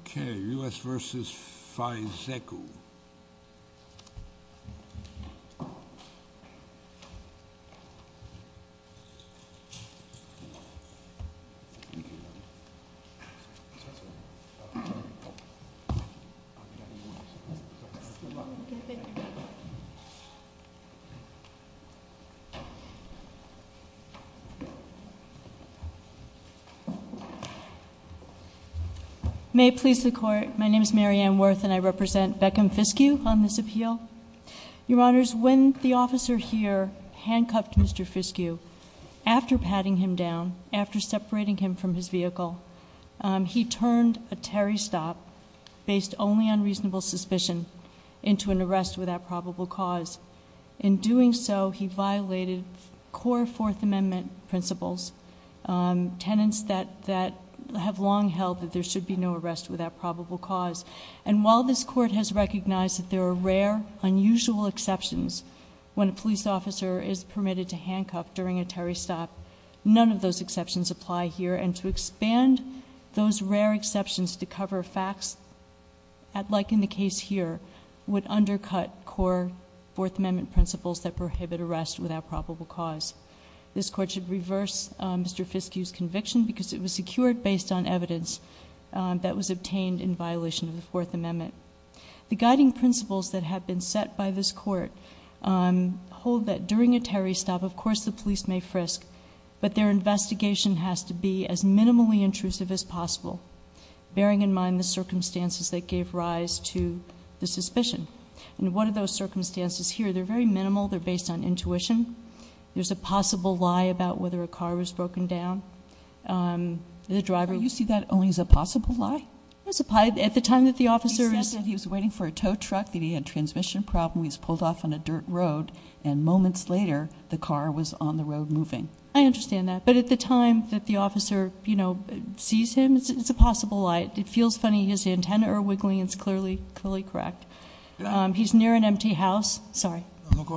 Okay, U.S. v. Fi, Zeku. May it please the court, my name is Mary Ann Worth and I represent Beckham Fiskew on this appeal. Your honors, when the officer here handcuffed Mr. Fiskew, after patting him down, after separating him from his vehicle, he turned a Terry stop, based only on reasonable suspicion, into an arrest without probable cause. In doing so, he violated core Fourth Amendment principles, tenets that have long held that there should be no arrest without probable cause. And while this court has recognized that there are rare, unusual exceptions when a police officer is permitted to handcuff during a Terry stop, none of those exceptions apply here. And to expand those rare exceptions to cover facts, like in the case here, would undercut core Fourth Amendment principles that prohibit arrest without probable cause. This court should reverse Mr. Fiskew's conviction because it was secured based on evidence that was obtained in violation of the Fourth Amendment. The guiding principles that have been set by this court hold that during a Terry stop, of course the police may frisk, but their investigation has to be as minimally intrusive as possible, bearing in mind the circumstances that gave rise to the suspicion. And what are those circumstances here? They're very minimal. They're based on intuition. There's a possible lie about whether a car was broken down. The driver- You see that only as a possible lie? At the time that the officer is- He said that he was waiting for a tow truck, that he had a transmission problem, he was pulled off on a dirt road, and moments later the car was on the road moving. I understand that. But at the time that the officer sees him, it's a possible lie. It feels funny. His antennae are wiggling. It's clearly correct. He's near an empty house. Sorry. No, go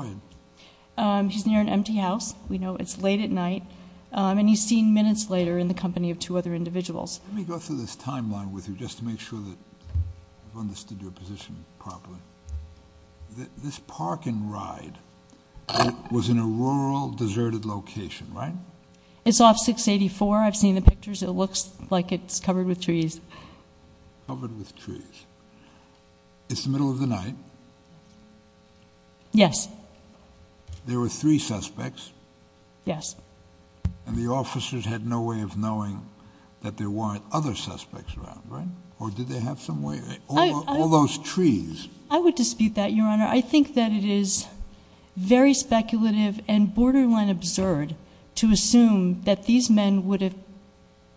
ahead. He's near an empty house. We know it's late at night. And he's seen minutes later in the company of two other individuals. Let me go through this timeline with you just to make sure that I've understood your position properly. This park and ride was in a rural, deserted location, right? It's off 684. I've seen the pictures. It looks like it's covered with trees. Covered with trees. It's the middle of the night. Yes. There were three suspects. Yes. And the officers had no way of knowing that there weren't other suspects around. Right. Or did they have some way? All those trees. I would dispute that, Your Honor. I think that it is very speculative and borderline absurd to assume that these men would have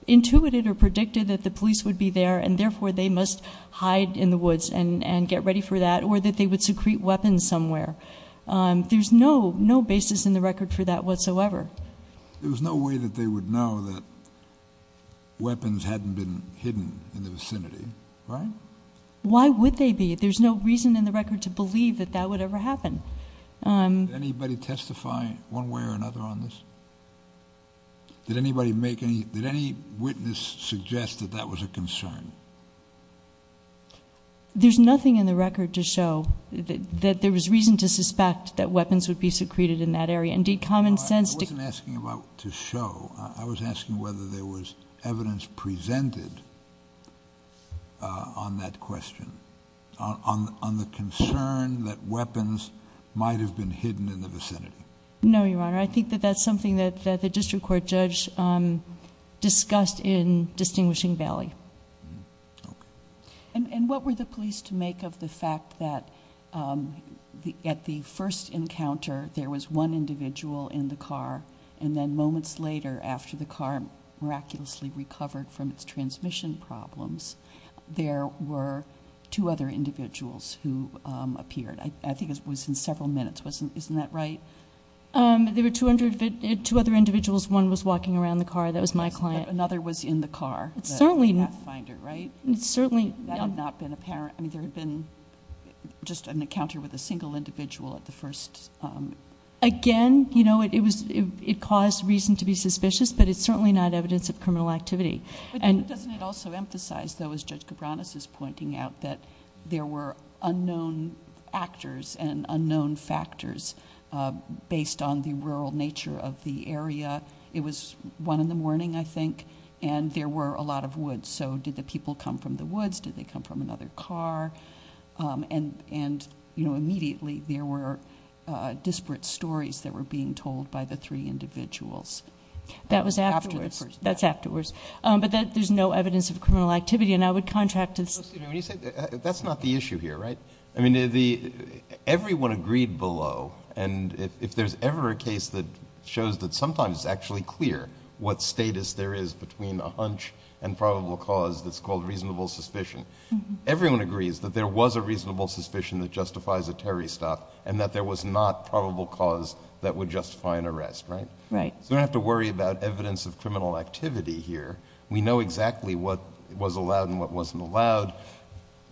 intuited or predicted that the police would be there, and therefore they must hide in the woods and get ready for that, or that they would secrete weapons somewhere. There's no basis in the record for that whatsoever. There was no way that they would know that weapons hadn't been hidden in the vicinity, right? Why would they be? There's no reason in the record to believe that that would ever happen. Did anybody testify one way or another on this? Did any witness suggest that that was a concern? There's nothing in the record to show that there was reason to suspect that weapons would be secreted in that area. Indeed, common sense. I wasn't asking about to show. I was asking whether there was evidence presented on that question, on the concern that weapons might have been hidden in the vicinity. No, Your Honor. I think that that's something that the district court judge discussed in distinguishing Bailey. And what were the police to make of the fact that at the first encounter there was one individual in the car, and then moments later after the car miraculously recovered from its transmission problems, there were two other individuals who appeared? I think it was in several minutes. Isn't that right? There were two other individuals. One was walking around the car. That was my client. Another was in the car, the pathfinder, right? Certainly. That had not been apparent. I mean, there had been just an encounter with a single individual at the first. Again, you know, it caused reason to be suspicious, but it's certainly not evidence of criminal activity. But doesn't it also emphasize, though, as Judge Cabranes is pointing out, that there were unknown actors and unknown factors based on the rural nature of the area. It was one in the morning, I think, and there were a lot of woods. So did the people come from the woods? Did they come from another car? And, you know, immediately there were disparate stories that were being told by the three individuals. That was afterwards. That's afterwards. But there's no evidence of criminal activity, and I would contract to this. That's not the issue here, right? I mean, everyone agreed below, and if there's ever a case that shows that sometimes it's actually clear what status there is between a hunch and probable cause that's called reasonable suspicion, everyone agrees that there was a reasonable suspicion that justifies a terrorist act and that there was not probable cause that would justify an arrest, right? Right. So we don't have to worry about evidence of criminal activity here. We know exactly what was allowed and what wasn't allowed.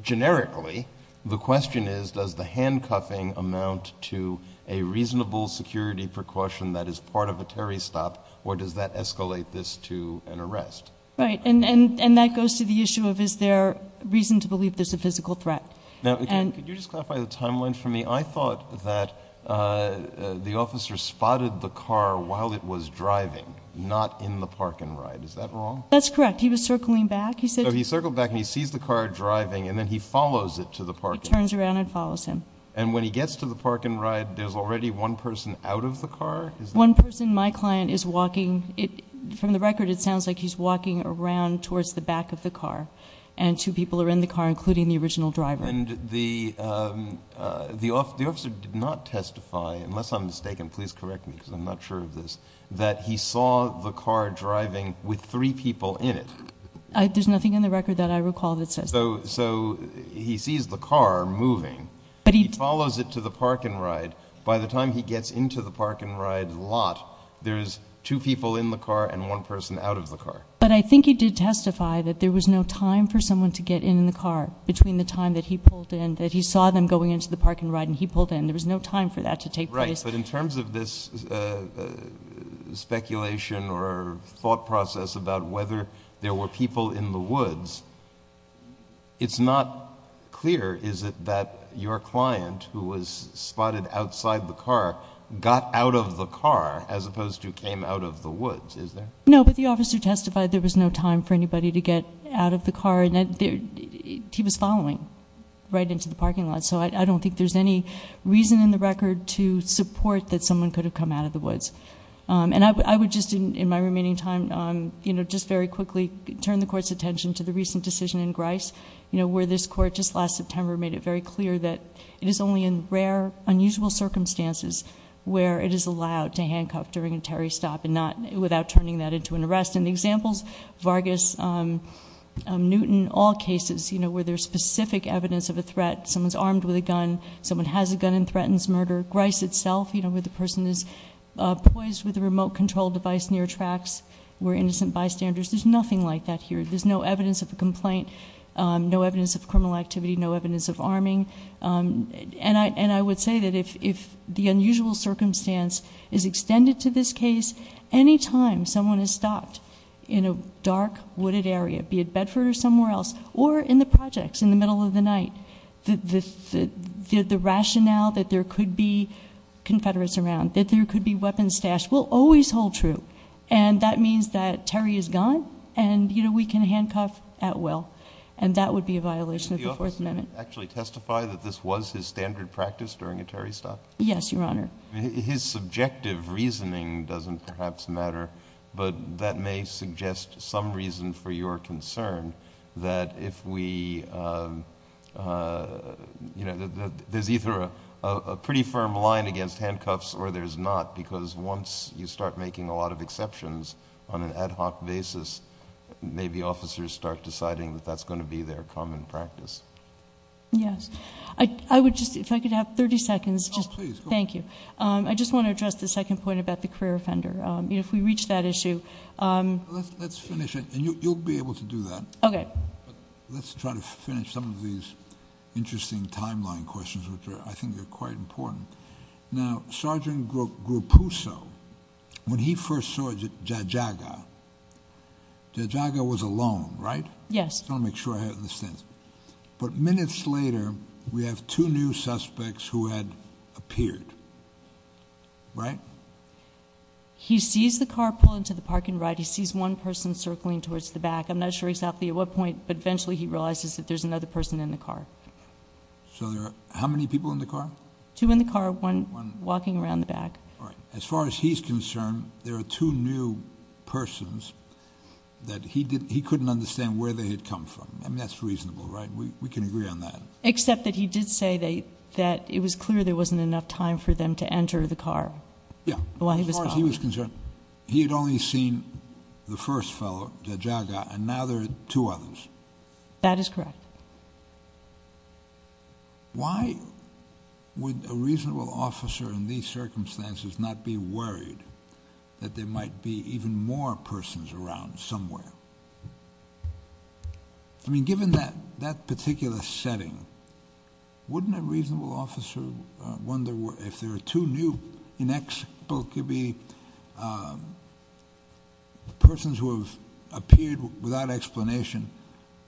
Generically, the question is, does the handcuffing amount to a reasonable security precaution that is part of a terrorist act, or does that escalate this to an arrest? Right. And that goes to the issue of is there reason to believe there's a physical threat. Now, again, could you just clarify the timeline for me? I thought that the officer spotted the car while it was driving, not in the park-and-ride. Is that wrong? That's correct. He was circling back. So he circled back, and he sees the car driving, and then he follows it to the park-and-ride. He turns around and follows him. And when he gets to the park-and-ride, there's already one person out of the car? One person, my client, is walking. From the record, it sounds like he's walking around towards the back of the car, and two people are in the car, including the original driver. And the officer did not testify, unless I'm mistaken, please correct me because I'm not sure of this, that he saw the car driving with three people in it. There's nothing in the record that I recall that says that. So he sees the car moving. He follows it to the park-and-ride. By the time he gets into the park-and-ride lot, there's two people in the car and one person out of the car. But I think he did testify that there was no time for someone to get in the car between the time that he pulled in, that he saw them going into the park-and-ride and he pulled in. There was no time for that to take place. Right, but in terms of this speculation or thought process about whether there were people in the woods, it's not clear, is it, that your client, who was spotted outside the car, got out of the car as opposed to came out of the woods, is there? No, but the officer testified there was no time for anybody to get out of the car. He was following right into the parking lot. So I don't think there's any reason in the record to support that someone could have come out of the woods. And I would just, in my remaining time, just very quickly turn the court's attention to the recent decision in Grice, where this court just last September made it very clear that it is only in rare, unusual circumstances where it is allowed to handcuff during a Terry stop without turning that into an arrest. And the examples, Vargas, Newton, all cases where there's specific evidence of a threat, someone's armed with a gun, someone has a gun and threatens murder. Grice itself, where the person is poised with a remote control device near tracks, where innocent bystanders, there's nothing like that here. There's no evidence of a complaint, no evidence of criminal activity, no evidence of arming. And I would say that if the unusual circumstance is extended to this case, any time someone is stopped in a dark, wooded area, be it Bedford or somewhere else, or in the projects in the middle of the night, the rationale that there could be Confederates around, that there could be weapons stashed, will always hold true. And that means that Terry is gone and we can handcuff at will. And that would be a violation of the Fourth Amendment. Can you actually testify that this was his standard practice during a Terry stop? Yes, Your Honor. His subjective reasoning doesn't perhaps matter, but that may suggest some reason for your concern that if we, you know, there's either a pretty firm line against handcuffs or there's not, because once you start making a lot of exceptions on an ad hoc basis, maybe officers start deciding that that's going to be their common practice. Yes. I would just, if I could have 30 seconds. Oh, please. Thank you. I just want to address the second point about the career offender. If we reach that issue. Let's finish it, and you'll be able to do that. Okay. Let's try to finish some of these interesting timeline questions, which I think are quite important. Now, Sergeant Gruppuso, when he first saw Jajaga, Jajaga was alone, right? Yes. I just want to make sure I understand. But minutes later, we have two new suspects who had appeared, right? He sees the car pull into the parking lot. He sees one person circling towards the back. I'm not sure exactly at what point, but eventually he realizes that there's another person in the car. So there are how many people in the car? Two in the car, one walking around the back. All right. As far as he's concerned, there are two new persons that he couldn't understand where they had come from. I mean, that's reasonable, right? We can agree on that. Except that he did say that it was clear there wasn't enough time for them to enter the car. Yeah. As far as he was concerned, he had only seen the first fellow, Jajaga, and now there are two others. That is correct. Why would a reasonable officer in these circumstances not be worried that there might be even more persons around somewhere? I mean, given that particular setting, wouldn't a reasonable officer wonder if there are two new inexplicably persons who have appeared without explanation,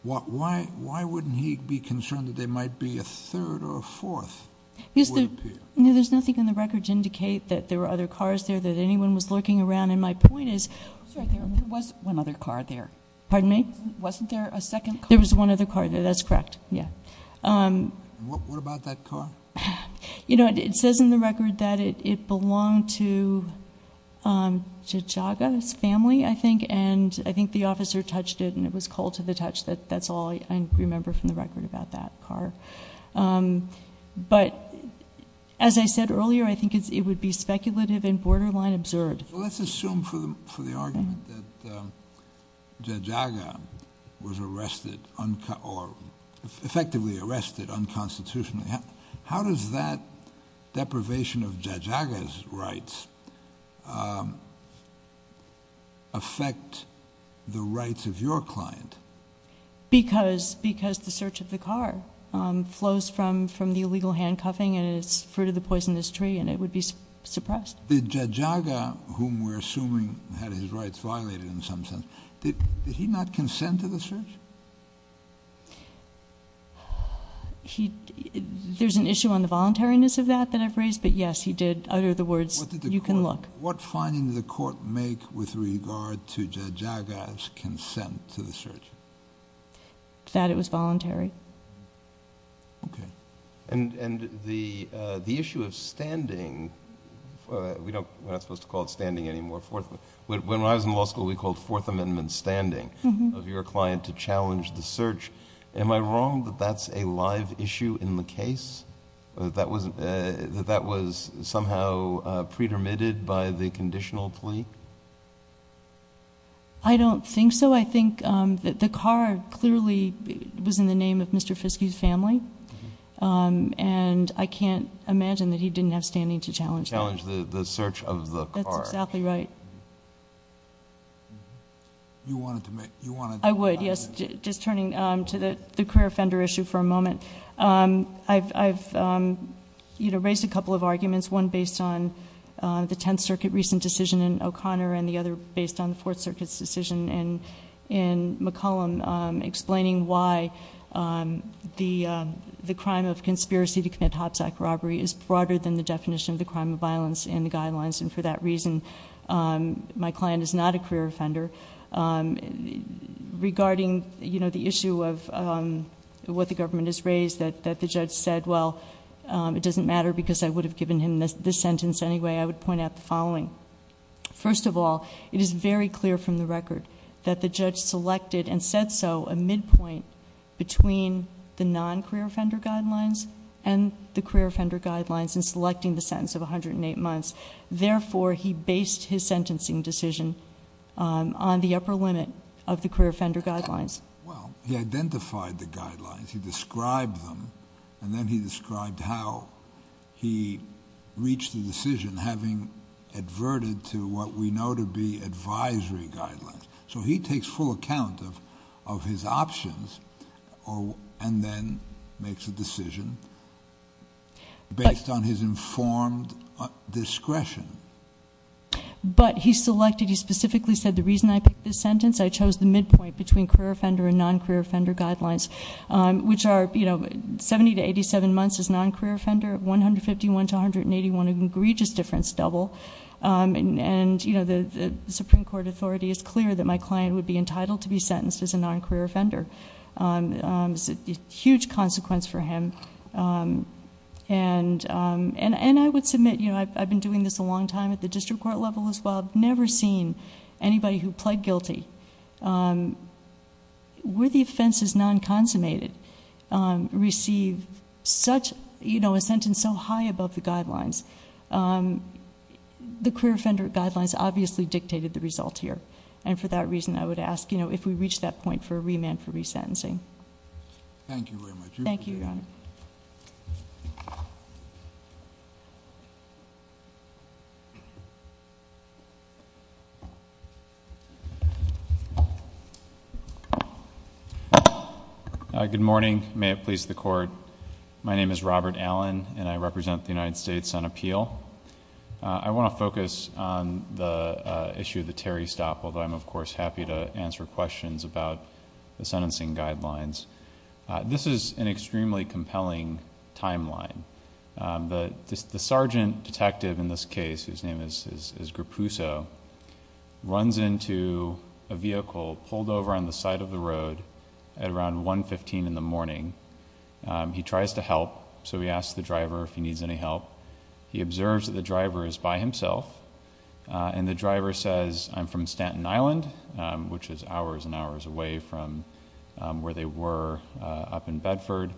why wouldn't he be concerned that there might be a third or a fourth who would appear? No, there's nothing in the record to indicate that there were other cars there, that anyone was lurking around. And my point is- I'm sorry. There was one other car there. Pardon me? Wasn't there a second car? There was one other car there. That's correct. Yeah. What about that car? You know, it says in the record that it belonged to Jajaga's family, I think. And I think the officer touched it and it was cold to the touch. That's all I remember from the record about that car. But as I said earlier, I think it would be speculative and borderline absurd. Well, let's assume for the argument that Jajaga was arrested or effectively arrested unconstitutionally. How does that deprivation of Jajaga's rights affect the rights of your client? Because the search of the car flows from the illegal handcuffing and it's fruit of the poisonous tree and it would be suppressed. Did Jajaga, whom we're assuming had his rights violated in some sense, did he not consent to the search? There's an issue on the voluntariness of that that I've raised. But, yes, he did utter the words, you can look. What finding did the court make with regard to Jajaga's consent to the search? That it was voluntary. Okay. And the issue of standing, we're not supposed to call it standing anymore. When I was in law school, we called Fourth Amendment standing of your client to challenge the search. Am I wrong that that's a live issue in the case? That that was somehow pretermitted by the conditional plea? I don't think so. No, I think the car clearly was in the name of Mr. Fiske's family. And I can't imagine that he didn't have standing to challenge that. Challenge the search of the car. That's exactly right. You wanted to make... I would, yes. Just turning to the career offender issue for a moment. I've raised a couple of arguments. One based on the Tenth Circuit recent decision in O'Connor and the other based on the Fourth Circuit's decision in McCollum. Explaining why the crime of conspiracy to commit hop sack robbery is broader than the definition of the crime of violence in the guidelines. And for that reason, my client is not a career offender. Regarding the issue of what the government has raised that the judge said, well, it doesn't matter because I would have given him this sentence anyway, I would point out the following. First of all, it is very clear from the record that the judge selected and said so a midpoint between the non-career offender guidelines and the career offender guidelines in selecting the sentence of 108 months. Therefore, he based his sentencing decision on the upper limit of the career offender guidelines. Well, he identified the guidelines. He described them. And then he described how he reached the decision having adverted to what we know to be advisory guidelines. So he takes full account of his options and then makes a decision based on his informed discretion. But he selected, he specifically said the reason I picked this sentence, I chose the midpoint between career offender and non-career offender guidelines. Which are 70 to 87 months as non-career offender, 151 to 181, an egregious difference double. And the Supreme Court authority is clear that my client would be entitled to be sentenced as a non-career offender. It's a huge consequence for him. And I would submit, I've been doing this a long time at the district court level as well. I've never seen anybody who pled guilty. Where the offense is non-consummated receive a sentence so high above the guidelines. The career offender guidelines obviously dictated the result here. And for that reason, I would ask if we reach that point for a remand for resentencing. Thank you very much. Thank you, Your Honor. Good morning. May it please the court. My name is Robert Allen and I represent the United States on appeal. I want to focus on the issue of the Terry stop, although I'm of course happy to answer questions about the sentencing guidelines. This is an extremely compelling timeline. The sergeant detective in this case, his name is Grappuzzo, runs into a vehicle pulled over on the side of the road at around 1.15 in the morning. He tries to help, so he asks the driver if he needs any help. He observes that the driver is by himself, and the driver says, I'm from Stanton Island, which is hours and hours away from where they were up in Bedford.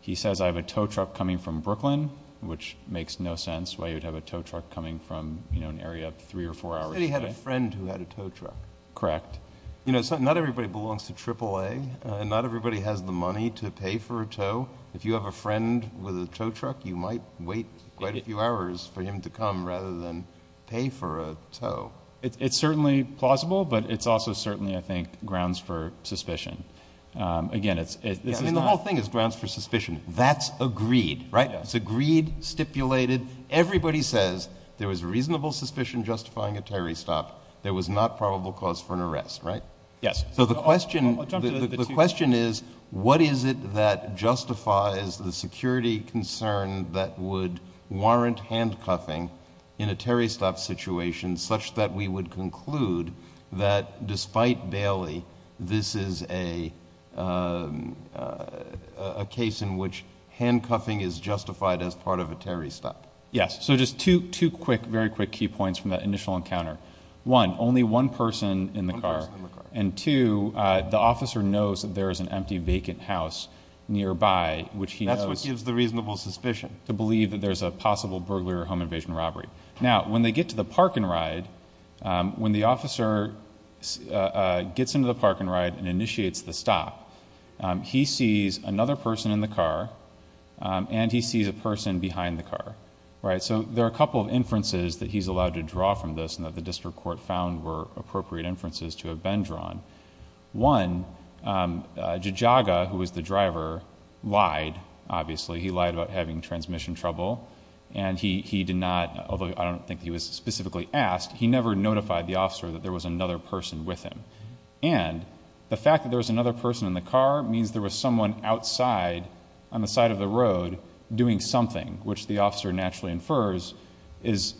He says, I have a tow truck coming from Brooklyn, which makes no sense why you'd have a tow truck coming from an area three or four hours away. He said he had a friend who had a tow truck. Correct. You know, not everybody belongs to AAA, and not everybody has the money to pay for a tow. If you have a friend with a tow truck, you might wait quite a few hours for him to come rather than pay for a tow. It's certainly plausible, but it's also certainly, I think, grounds for suspicion. Again, this is not- I mean, the whole thing is grounds for suspicion. That's agreed, right? It's agreed, stipulated. Everybody says there was reasonable suspicion justifying a Terry stop. There was not probable cause for an arrest, right? Yes. So the question is, what is it that justifies the security concern that would warrant handcuffing in a Terry stop situation such that we would conclude that despite Bailey, this is a case in which handcuffing is justified as part of a Terry stop? Yes. So just two quick, very quick key points from that initial encounter. One, only one person in the car. And two, the officer knows that there is an empty, vacant house nearby, which he knows- That's what gives the reasonable suspicion. To believe that there's a possible burglar or home invasion robbery. Now, when they get to the park and ride, when the officer gets into the park and ride and initiates the stop, he sees another person in the car, and he sees a person behind the car, right? So there are a couple of inferences that he's allowed to draw from this and that the district court found were appropriate inferences to have been drawn. One, Jajaga, who was the driver, lied, obviously. He lied about having transmission trouble. And he did not, although I don't think he was specifically asked, he never notified the officer that there was another person with him. And the fact that there was another person in the car means there was someone outside on the side of the road doing something, which the officer naturally infers is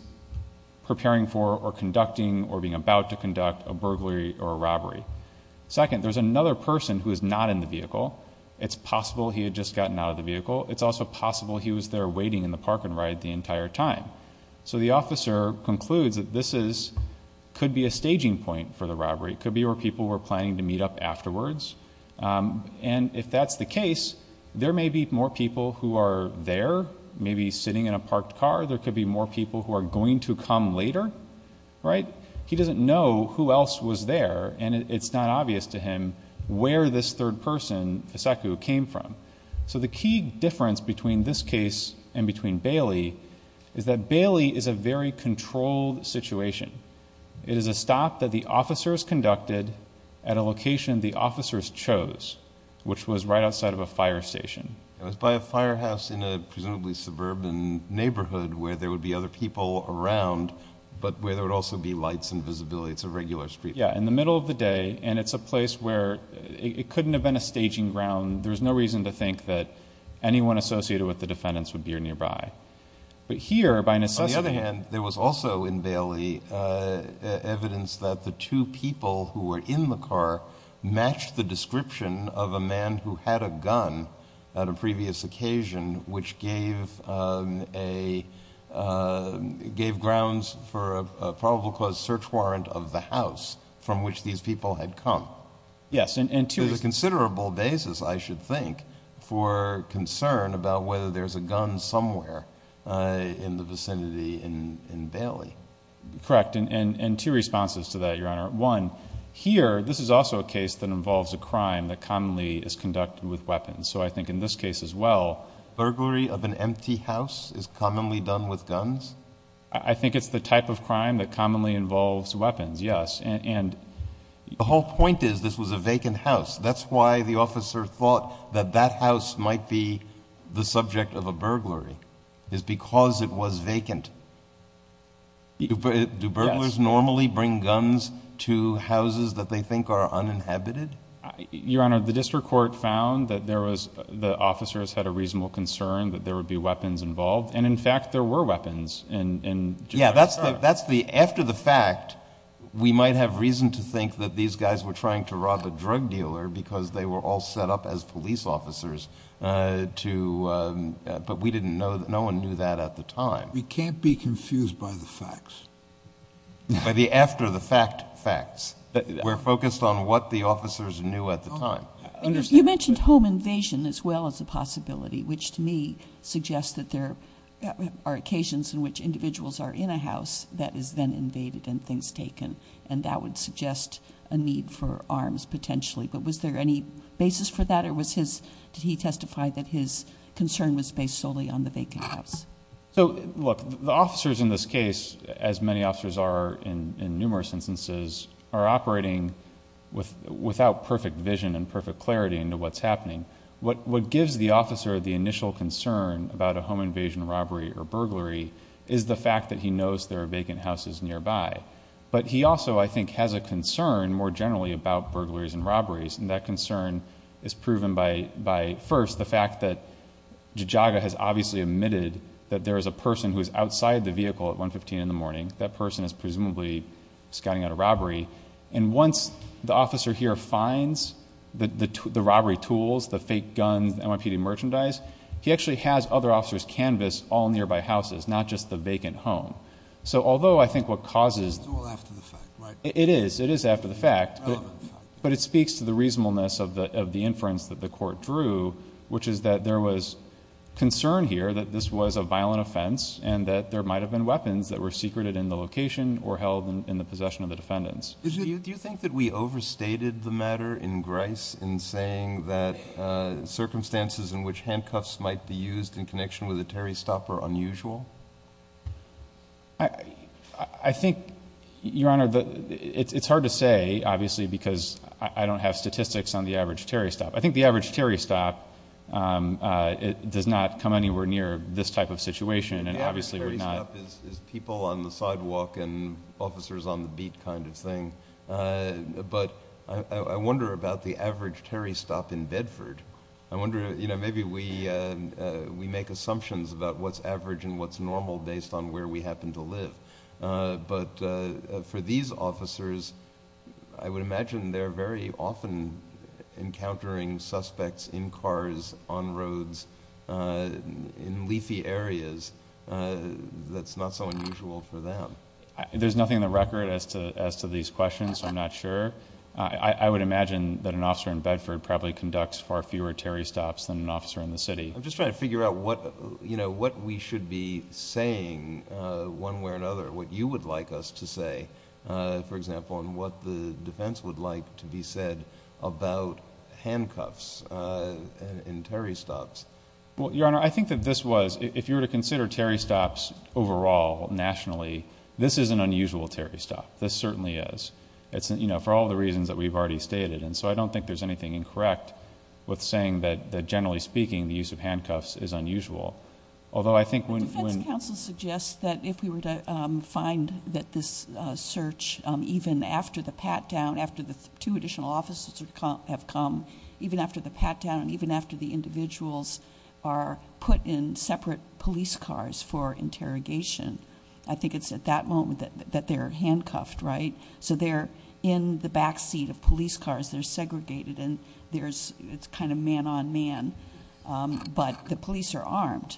preparing for or conducting or being about to conduct a burglary or a robbery. Second, there's another person who is not in the vehicle. It's possible he had just gotten out of the vehicle. It's also possible he was there waiting in the park and ride the entire time. So the officer concludes that this could be a staging point for the robbery. It could be where people were planning to meet up afterwards. And if that's the case, there may be more people who are there, maybe sitting in a parked car. There could be more people who are going to come later, right? He doesn't know who else was there, and it's not obvious to him where this third person, Fisaku, came from. So the key difference between this case and between Bailey is that Bailey is a very controlled situation. It is a stop that the officers conducted at a location the officers chose, which was right outside of a fire station. It was by a firehouse in a presumably suburban neighborhood where there would be other people around, but where there would also be lights and visibility. It's a regular street. Yeah, in the middle of the day, and it's a place where it couldn't have been a staging ground. There's no reason to think that anyone associated with the defendants would be nearby. But here, by necessity- Evidence that the two people who were in the car matched the description of a man who had a gun at a previous occasion, which gave grounds for a probable cause search warrant of the house from which these people had come. Yes, and two- There's a considerable basis, I should think, for concern about whether there's a gun somewhere in the vicinity in Bailey. Correct, and two responses to that, Your Honor. One, here, this is also a case that involves a crime that commonly is conducted with weapons. So I think in this case as well- Burglary of an empty house is commonly done with guns? I think it's the type of crime that commonly involves weapons, yes. And- The whole point is this was a vacant house. That's why the officer thought that that house might be the subject of a burglary, is because it was vacant. Do burglars normally bring guns to houses that they think are uninhabited? Your Honor, the district court found that the officers had a reasonable concern that there would be weapons involved, and in fact, there were weapons in- Yeah, that's the... after the fact, we might have reason to think that these guys were trying to rob a drug dealer because they were all set up as police officers, to... but we didn't know... no one knew that at the time. We can't be confused by the facts. By the after-the-fact facts. We're focused on what the officers knew at the time. You mentioned home invasion as well as a possibility, which to me suggests that there are occasions in which individuals are in a house that is then invaded and things taken, and that would suggest a need for arms, potentially. Was there any basis for that? Did he testify that his concern was based solely on the vacant house? Look, the officers in this case, as many officers are in numerous instances, are operating without perfect vision and perfect clarity into what's happening. What gives the officer the initial concern about a home invasion, robbery, or burglary is the fact that he knows there are vacant houses nearby, but he also, I think, has a concern, more generally, about burglaries and robberies. That concern is proven by, first, the fact that Jajaga has obviously admitted that there is a person who is outside the vehicle at 115 in the morning. That person is presumably scouting out a robbery. Once the officer here finds the robbery tools, the fake guns, NYPD merchandise, he actually has other officers canvas all nearby houses, not just the vacant home. Although I think what causes... The tool after the fact, right? It is. It is after the fact, but it speaks to the reasonableness of the inference that the court drew, which is that there was concern here that this was a violent offense and that there might have been weapons that were secreted in the location or held in the possession of the defendants. Do you think that we overstated the matter in Grice in saying that circumstances in which handcuffs might be used in connection with a Terry stop are unusual? I think, Your Honor, it's hard to say, obviously, because I don't have statistics on the average Terry stop. I think the average Terry stop does not come anywhere near this type of situation, and obviously we're not... The average Terry stop is people on the sidewalk and officers on the beat kind of thing, but I wonder about the average Terry stop in Bedford. I wonder, you know, maybe we make assumptions about what's average and what's not. It's normal based on where we happen to live, but for these officers, I would imagine they're very often encountering suspects in cars, on roads, in leafy areas. That's not so unusual for them. There's nothing in the record as to these questions, so I'm not sure. I would imagine that an officer in Bedford probably conducts far fewer Terry stops than an officer in the city. I'm just trying to figure out what we should be saying one way or another, what you would like us to say, for example, and what the defense would like to be said about handcuffs and Terry stops. Well, Your Honor, I think that this was... if you were to consider Terry stops overall nationally, this is an unusual Terry stop. This certainly is. For all the reasons that we've already stated, and so I don't think there's anything incorrect with saying that, generally speaking, the use of handcuffs is unusual. Although, I think when... The defense counsel suggests that if we were to find that this search, even after the pat-down, after the two additional officers have come, even after the pat-down, even after the individuals are put in separate police cars for interrogation, I think it's at that moment that they're handcuffed, right? They're in the backseat of police cars. They're segregated and it's kind of man-on-man, but the police are armed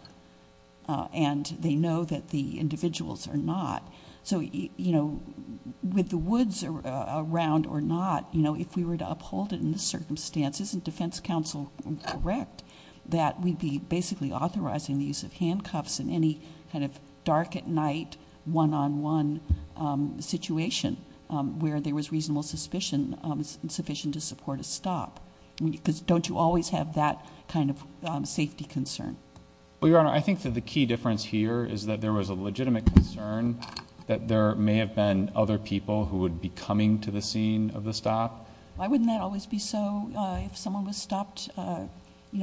and they know that the individuals are not. With the woods around or not, if we were to uphold it in this circumstance, isn't defense counsel correct that we'd be basically authorizing the use of handcuffs when there was reasonable suspicion to support a stop? Don't you always have that kind of safety concern? Well, Your Honor, I think that the key difference here is that there was a legitimate concern that there may have been other people who would be coming to the scene of the stop. Why wouldn't that always be so if someone was stopped in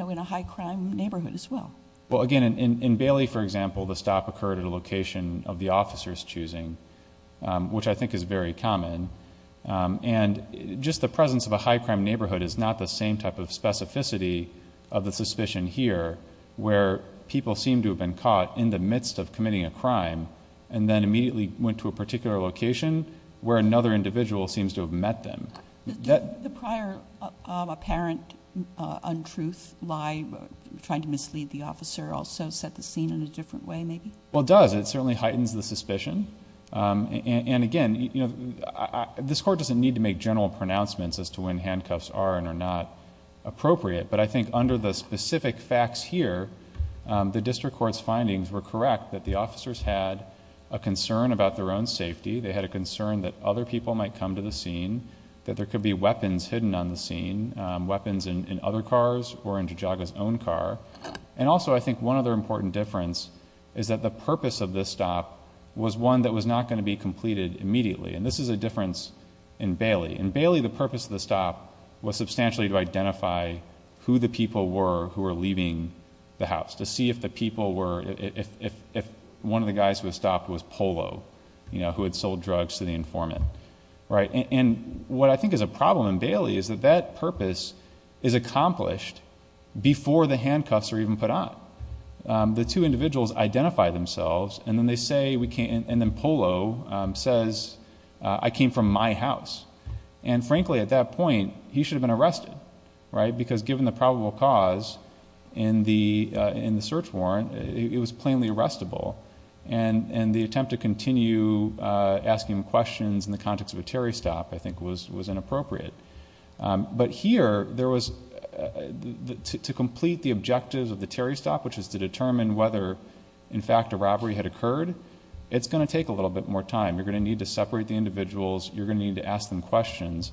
a high-crime neighborhood as well? Well, again, in Bailey, for example, the stop occurred at a location of the And just the presence of a high-crime neighborhood is not the same type of specificity of the suspicion here where people seem to have been caught in the midst of committing a crime and then immediately went to a particular location where another individual seems to have met them. Did the prior apparent untruth, lie, trying to mislead the officer also set the scene in a different way, maybe? Well, it does. It certainly heightens the suspicion. Again, this court doesn't need to make general pronouncements as to when handcuffs are and are not appropriate, but I think under the specific facts here, the district court's findings were correct that the officers had a concern about their own safety. They had a concern that other people might come to the scene, that there could be weapons hidden on the scene, weapons in other cars or in Jajaga's own car. Also, I think one other important difference is that the purpose of this stop was one that was not going to be completed immediately, and this is a difference in Bailey. In Bailey, the purpose of the stop was substantially to identify who the people were who were leaving the house, to see if one of the guys who had stopped was Polo, who had sold drugs to the informant. What I think is a problem in Bailey is that that purpose is accomplished before the handcuffs are even put on. The two individuals identify themselves, and then Polo says, I came from my house. Frankly, at that point, he should have been arrested because given the probable cause in the search warrant, it was plainly arrestable, and the attempt to continue asking questions in the context of a Terry stop, I think, was inappropriate. But here, to complete the objectives of the Terry stop, which is to determine whether, in fact, a robbery had occurred, it's going to take a little bit more time. You're going to need to separate the individuals. You're going to need to ask them questions.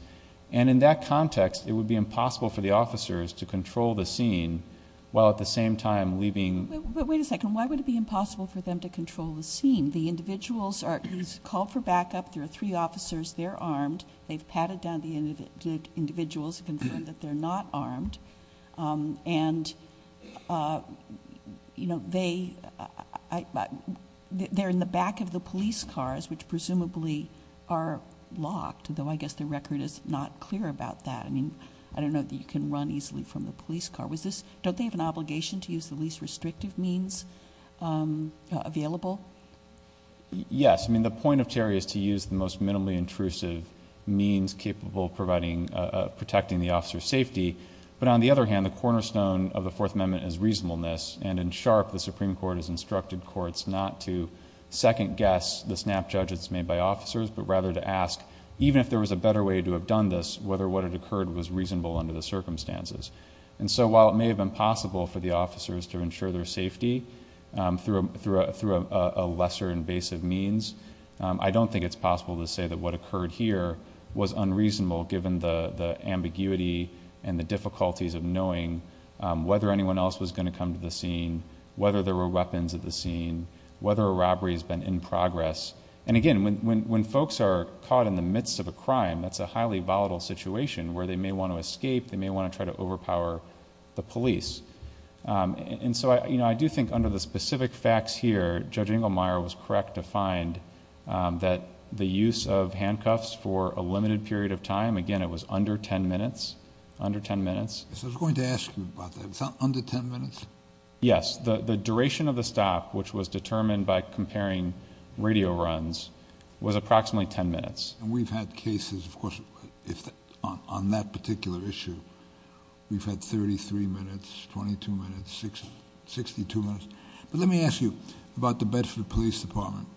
In that context, it would be impossible for the officers to control the scene while at the same time leaving... Wait a second. Why would it be impossible for them to control the scene? The individuals are called for backup. There are three officers. They're armed. They've patted down the individuals to confirm that they're not armed. They're in the back of the police cars, which presumably are locked, though I guess the record is not clear about that. I don't know that you can run easily from the police car. Don't they have an obligation to use the least restrictive means available? Yes. I mean, the point of Terry is to use the most minimally intrusive means capable of protecting the officer's safety. But on the other hand, the cornerstone of the Fourth Amendment is reasonableness. In SHARP, the Supreme Court has instructed courts not to second guess the snap judge that's made by officers, but rather to ask, even if there was a better way to have done this, whether what had occurred was reasonable under the circumstances. While it may have been possible for the officers to ensure their safety through a lesser invasive means, I don't think it's possible to say that what occurred here was unreasonable, given the ambiguity and the difficulties of knowing whether anyone else was going to come to the scene, whether there were weapons at the scene, whether a robbery has been in progress. And again, when folks are caught in the midst of a crime, that's a highly volatile situation where they may want to escape. They may want to try to overpower the police. And so, I do think under the specific facts here, Judge Inglemeyer was correct to find that the use of handcuffs for a limited period of time, again it was under ten minutes, under ten minutes. Yes, I was going to ask you about that. Is that under ten minutes? Yes, the duration of the stop, which was determined by comparing radio runs, was approximately ten minutes. And we've had cases, of course, on that particular issue, we've had thirty-three minutes, twenty-two minutes, sixty-two minutes. But let me ask you about the Bedford Police Department.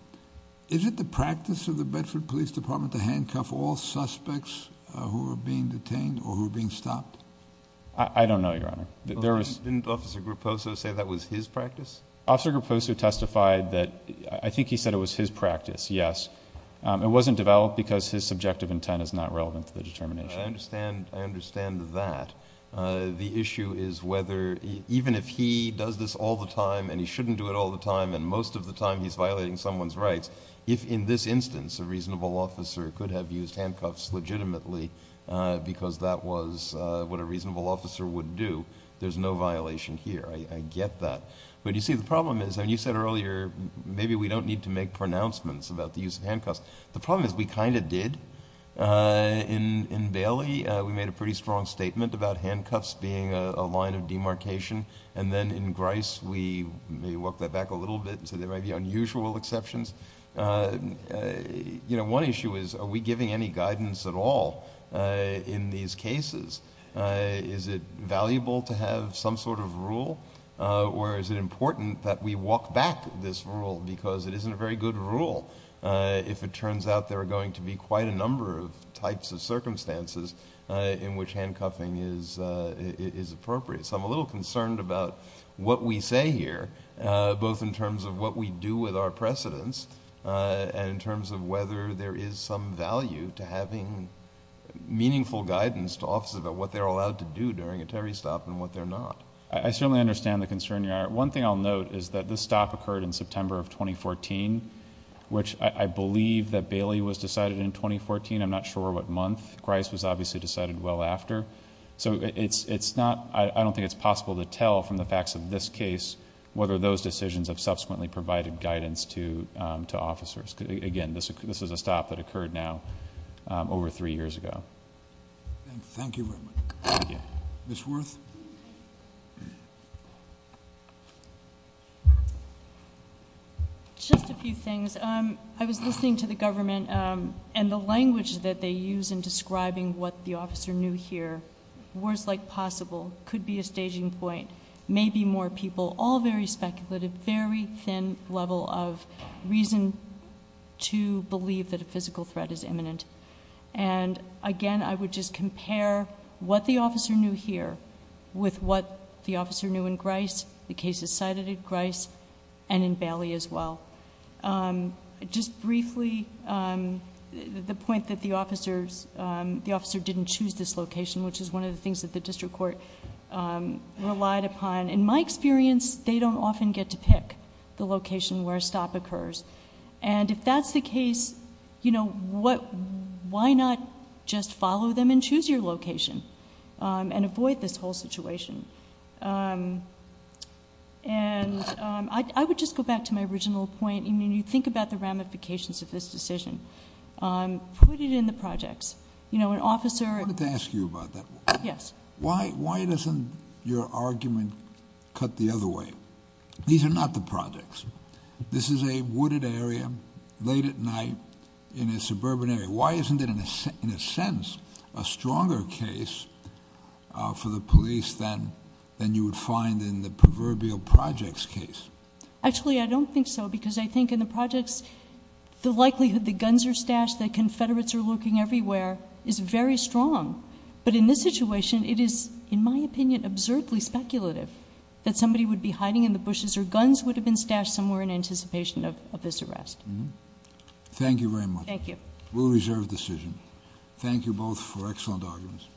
Is it the practice of the Bedford Police Department to handcuff all suspects who are being detained or who are being stopped? I don't know, Your Honor. Didn't Officer Grupposo say that was his practice? Officer Grupposo testified that, I think he said it was his practice, yes. It wasn't developed because his subjective intent is not relevant to the determination. I understand that. The issue is whether, even if he does this all the time and he shouldn't do it all the time and most of the time he's violating someone's rights, if in this instance a reasonable officer could have used handcuffs legitimately because that was what a reasonable officer would do, there's no violation here. I get that. But you see, the problem is, and you said earlier, maybe we don't need to make pronouncements about the use of handcuffs. The problem is we kind of did. In Bailey, we made a pretty strong statement about handcuffs being a line of demarcation and then in Grice, we may walk that back a little bit and say there might be unusual exceptions. One issue is, are we giving any guidance at all in these cases? Is it valuable to have some sort of rule or is it important that we walk this rule because it isn't a very good rule if it turns out there are going to be quite a number of types of circumstances in which handcuffing is appropriate? I'm a little concerned about what we say here, both in terms of what we do with our precedents and in terms of whether there is some value to having meaningful guidance to officers about what they're allowed to do during a Terry stop and what they're not. I certainly understand the concern, Your Honor. One thing I'll note is that this stop occurred in September of 2014, which I believe that Bailey was decided in 2014. I'm not sure what month. Grice was obviously decided well after. I don't think it's possible to tell from the facts of this case whether those decisions have subsequently provided guidance to officers. Again, this is a stop that occurred now over three years ago. Thank you very much. Thank you. Ms. Worth? Just a few things. I was listening to the government and the language that they use in describing what the officer knew here, worse like possible, could be a staging point, maybe more people, all very speculative, very thin level of reason to believe that a physical threat is imminent. Again, I would just compare what the officer knew here with what the officer knew in Grice, the cases cited in Grice, and in Bailey as well. Just briefly, the point that the officer didn't choose this location, which is one of the things that the district court relied upon. In my experience, they don't often get to pick the location where a stop occurs. If that's the case, why not just follow them and choose your location and avoid this whole situation? I would just go back to my original point. When you think about the ramifications of this decision, put it in the projects. An officer... I wanted to ask you about that. Yes. Why doesn't your argument cut the other way? These are not the projects. This is a wooded area, late at night, in a suburban area. Why isn't it, in a sense, a stronger case for the police than you would find in the proverbial projects case? Actually, I don't think so because I think in the projects, the likelihood that guns are stashed, that Confederates are lurking everywhere is very strong. In this situation, it is, in my opinion, absurdly speculative that somebody would be hiding in the bushes or guns would have been stashed somewhere in anticipation of this arrest. Thank you very much. Thank you. We'll reserve the decision. Thank you both for excellent arguments.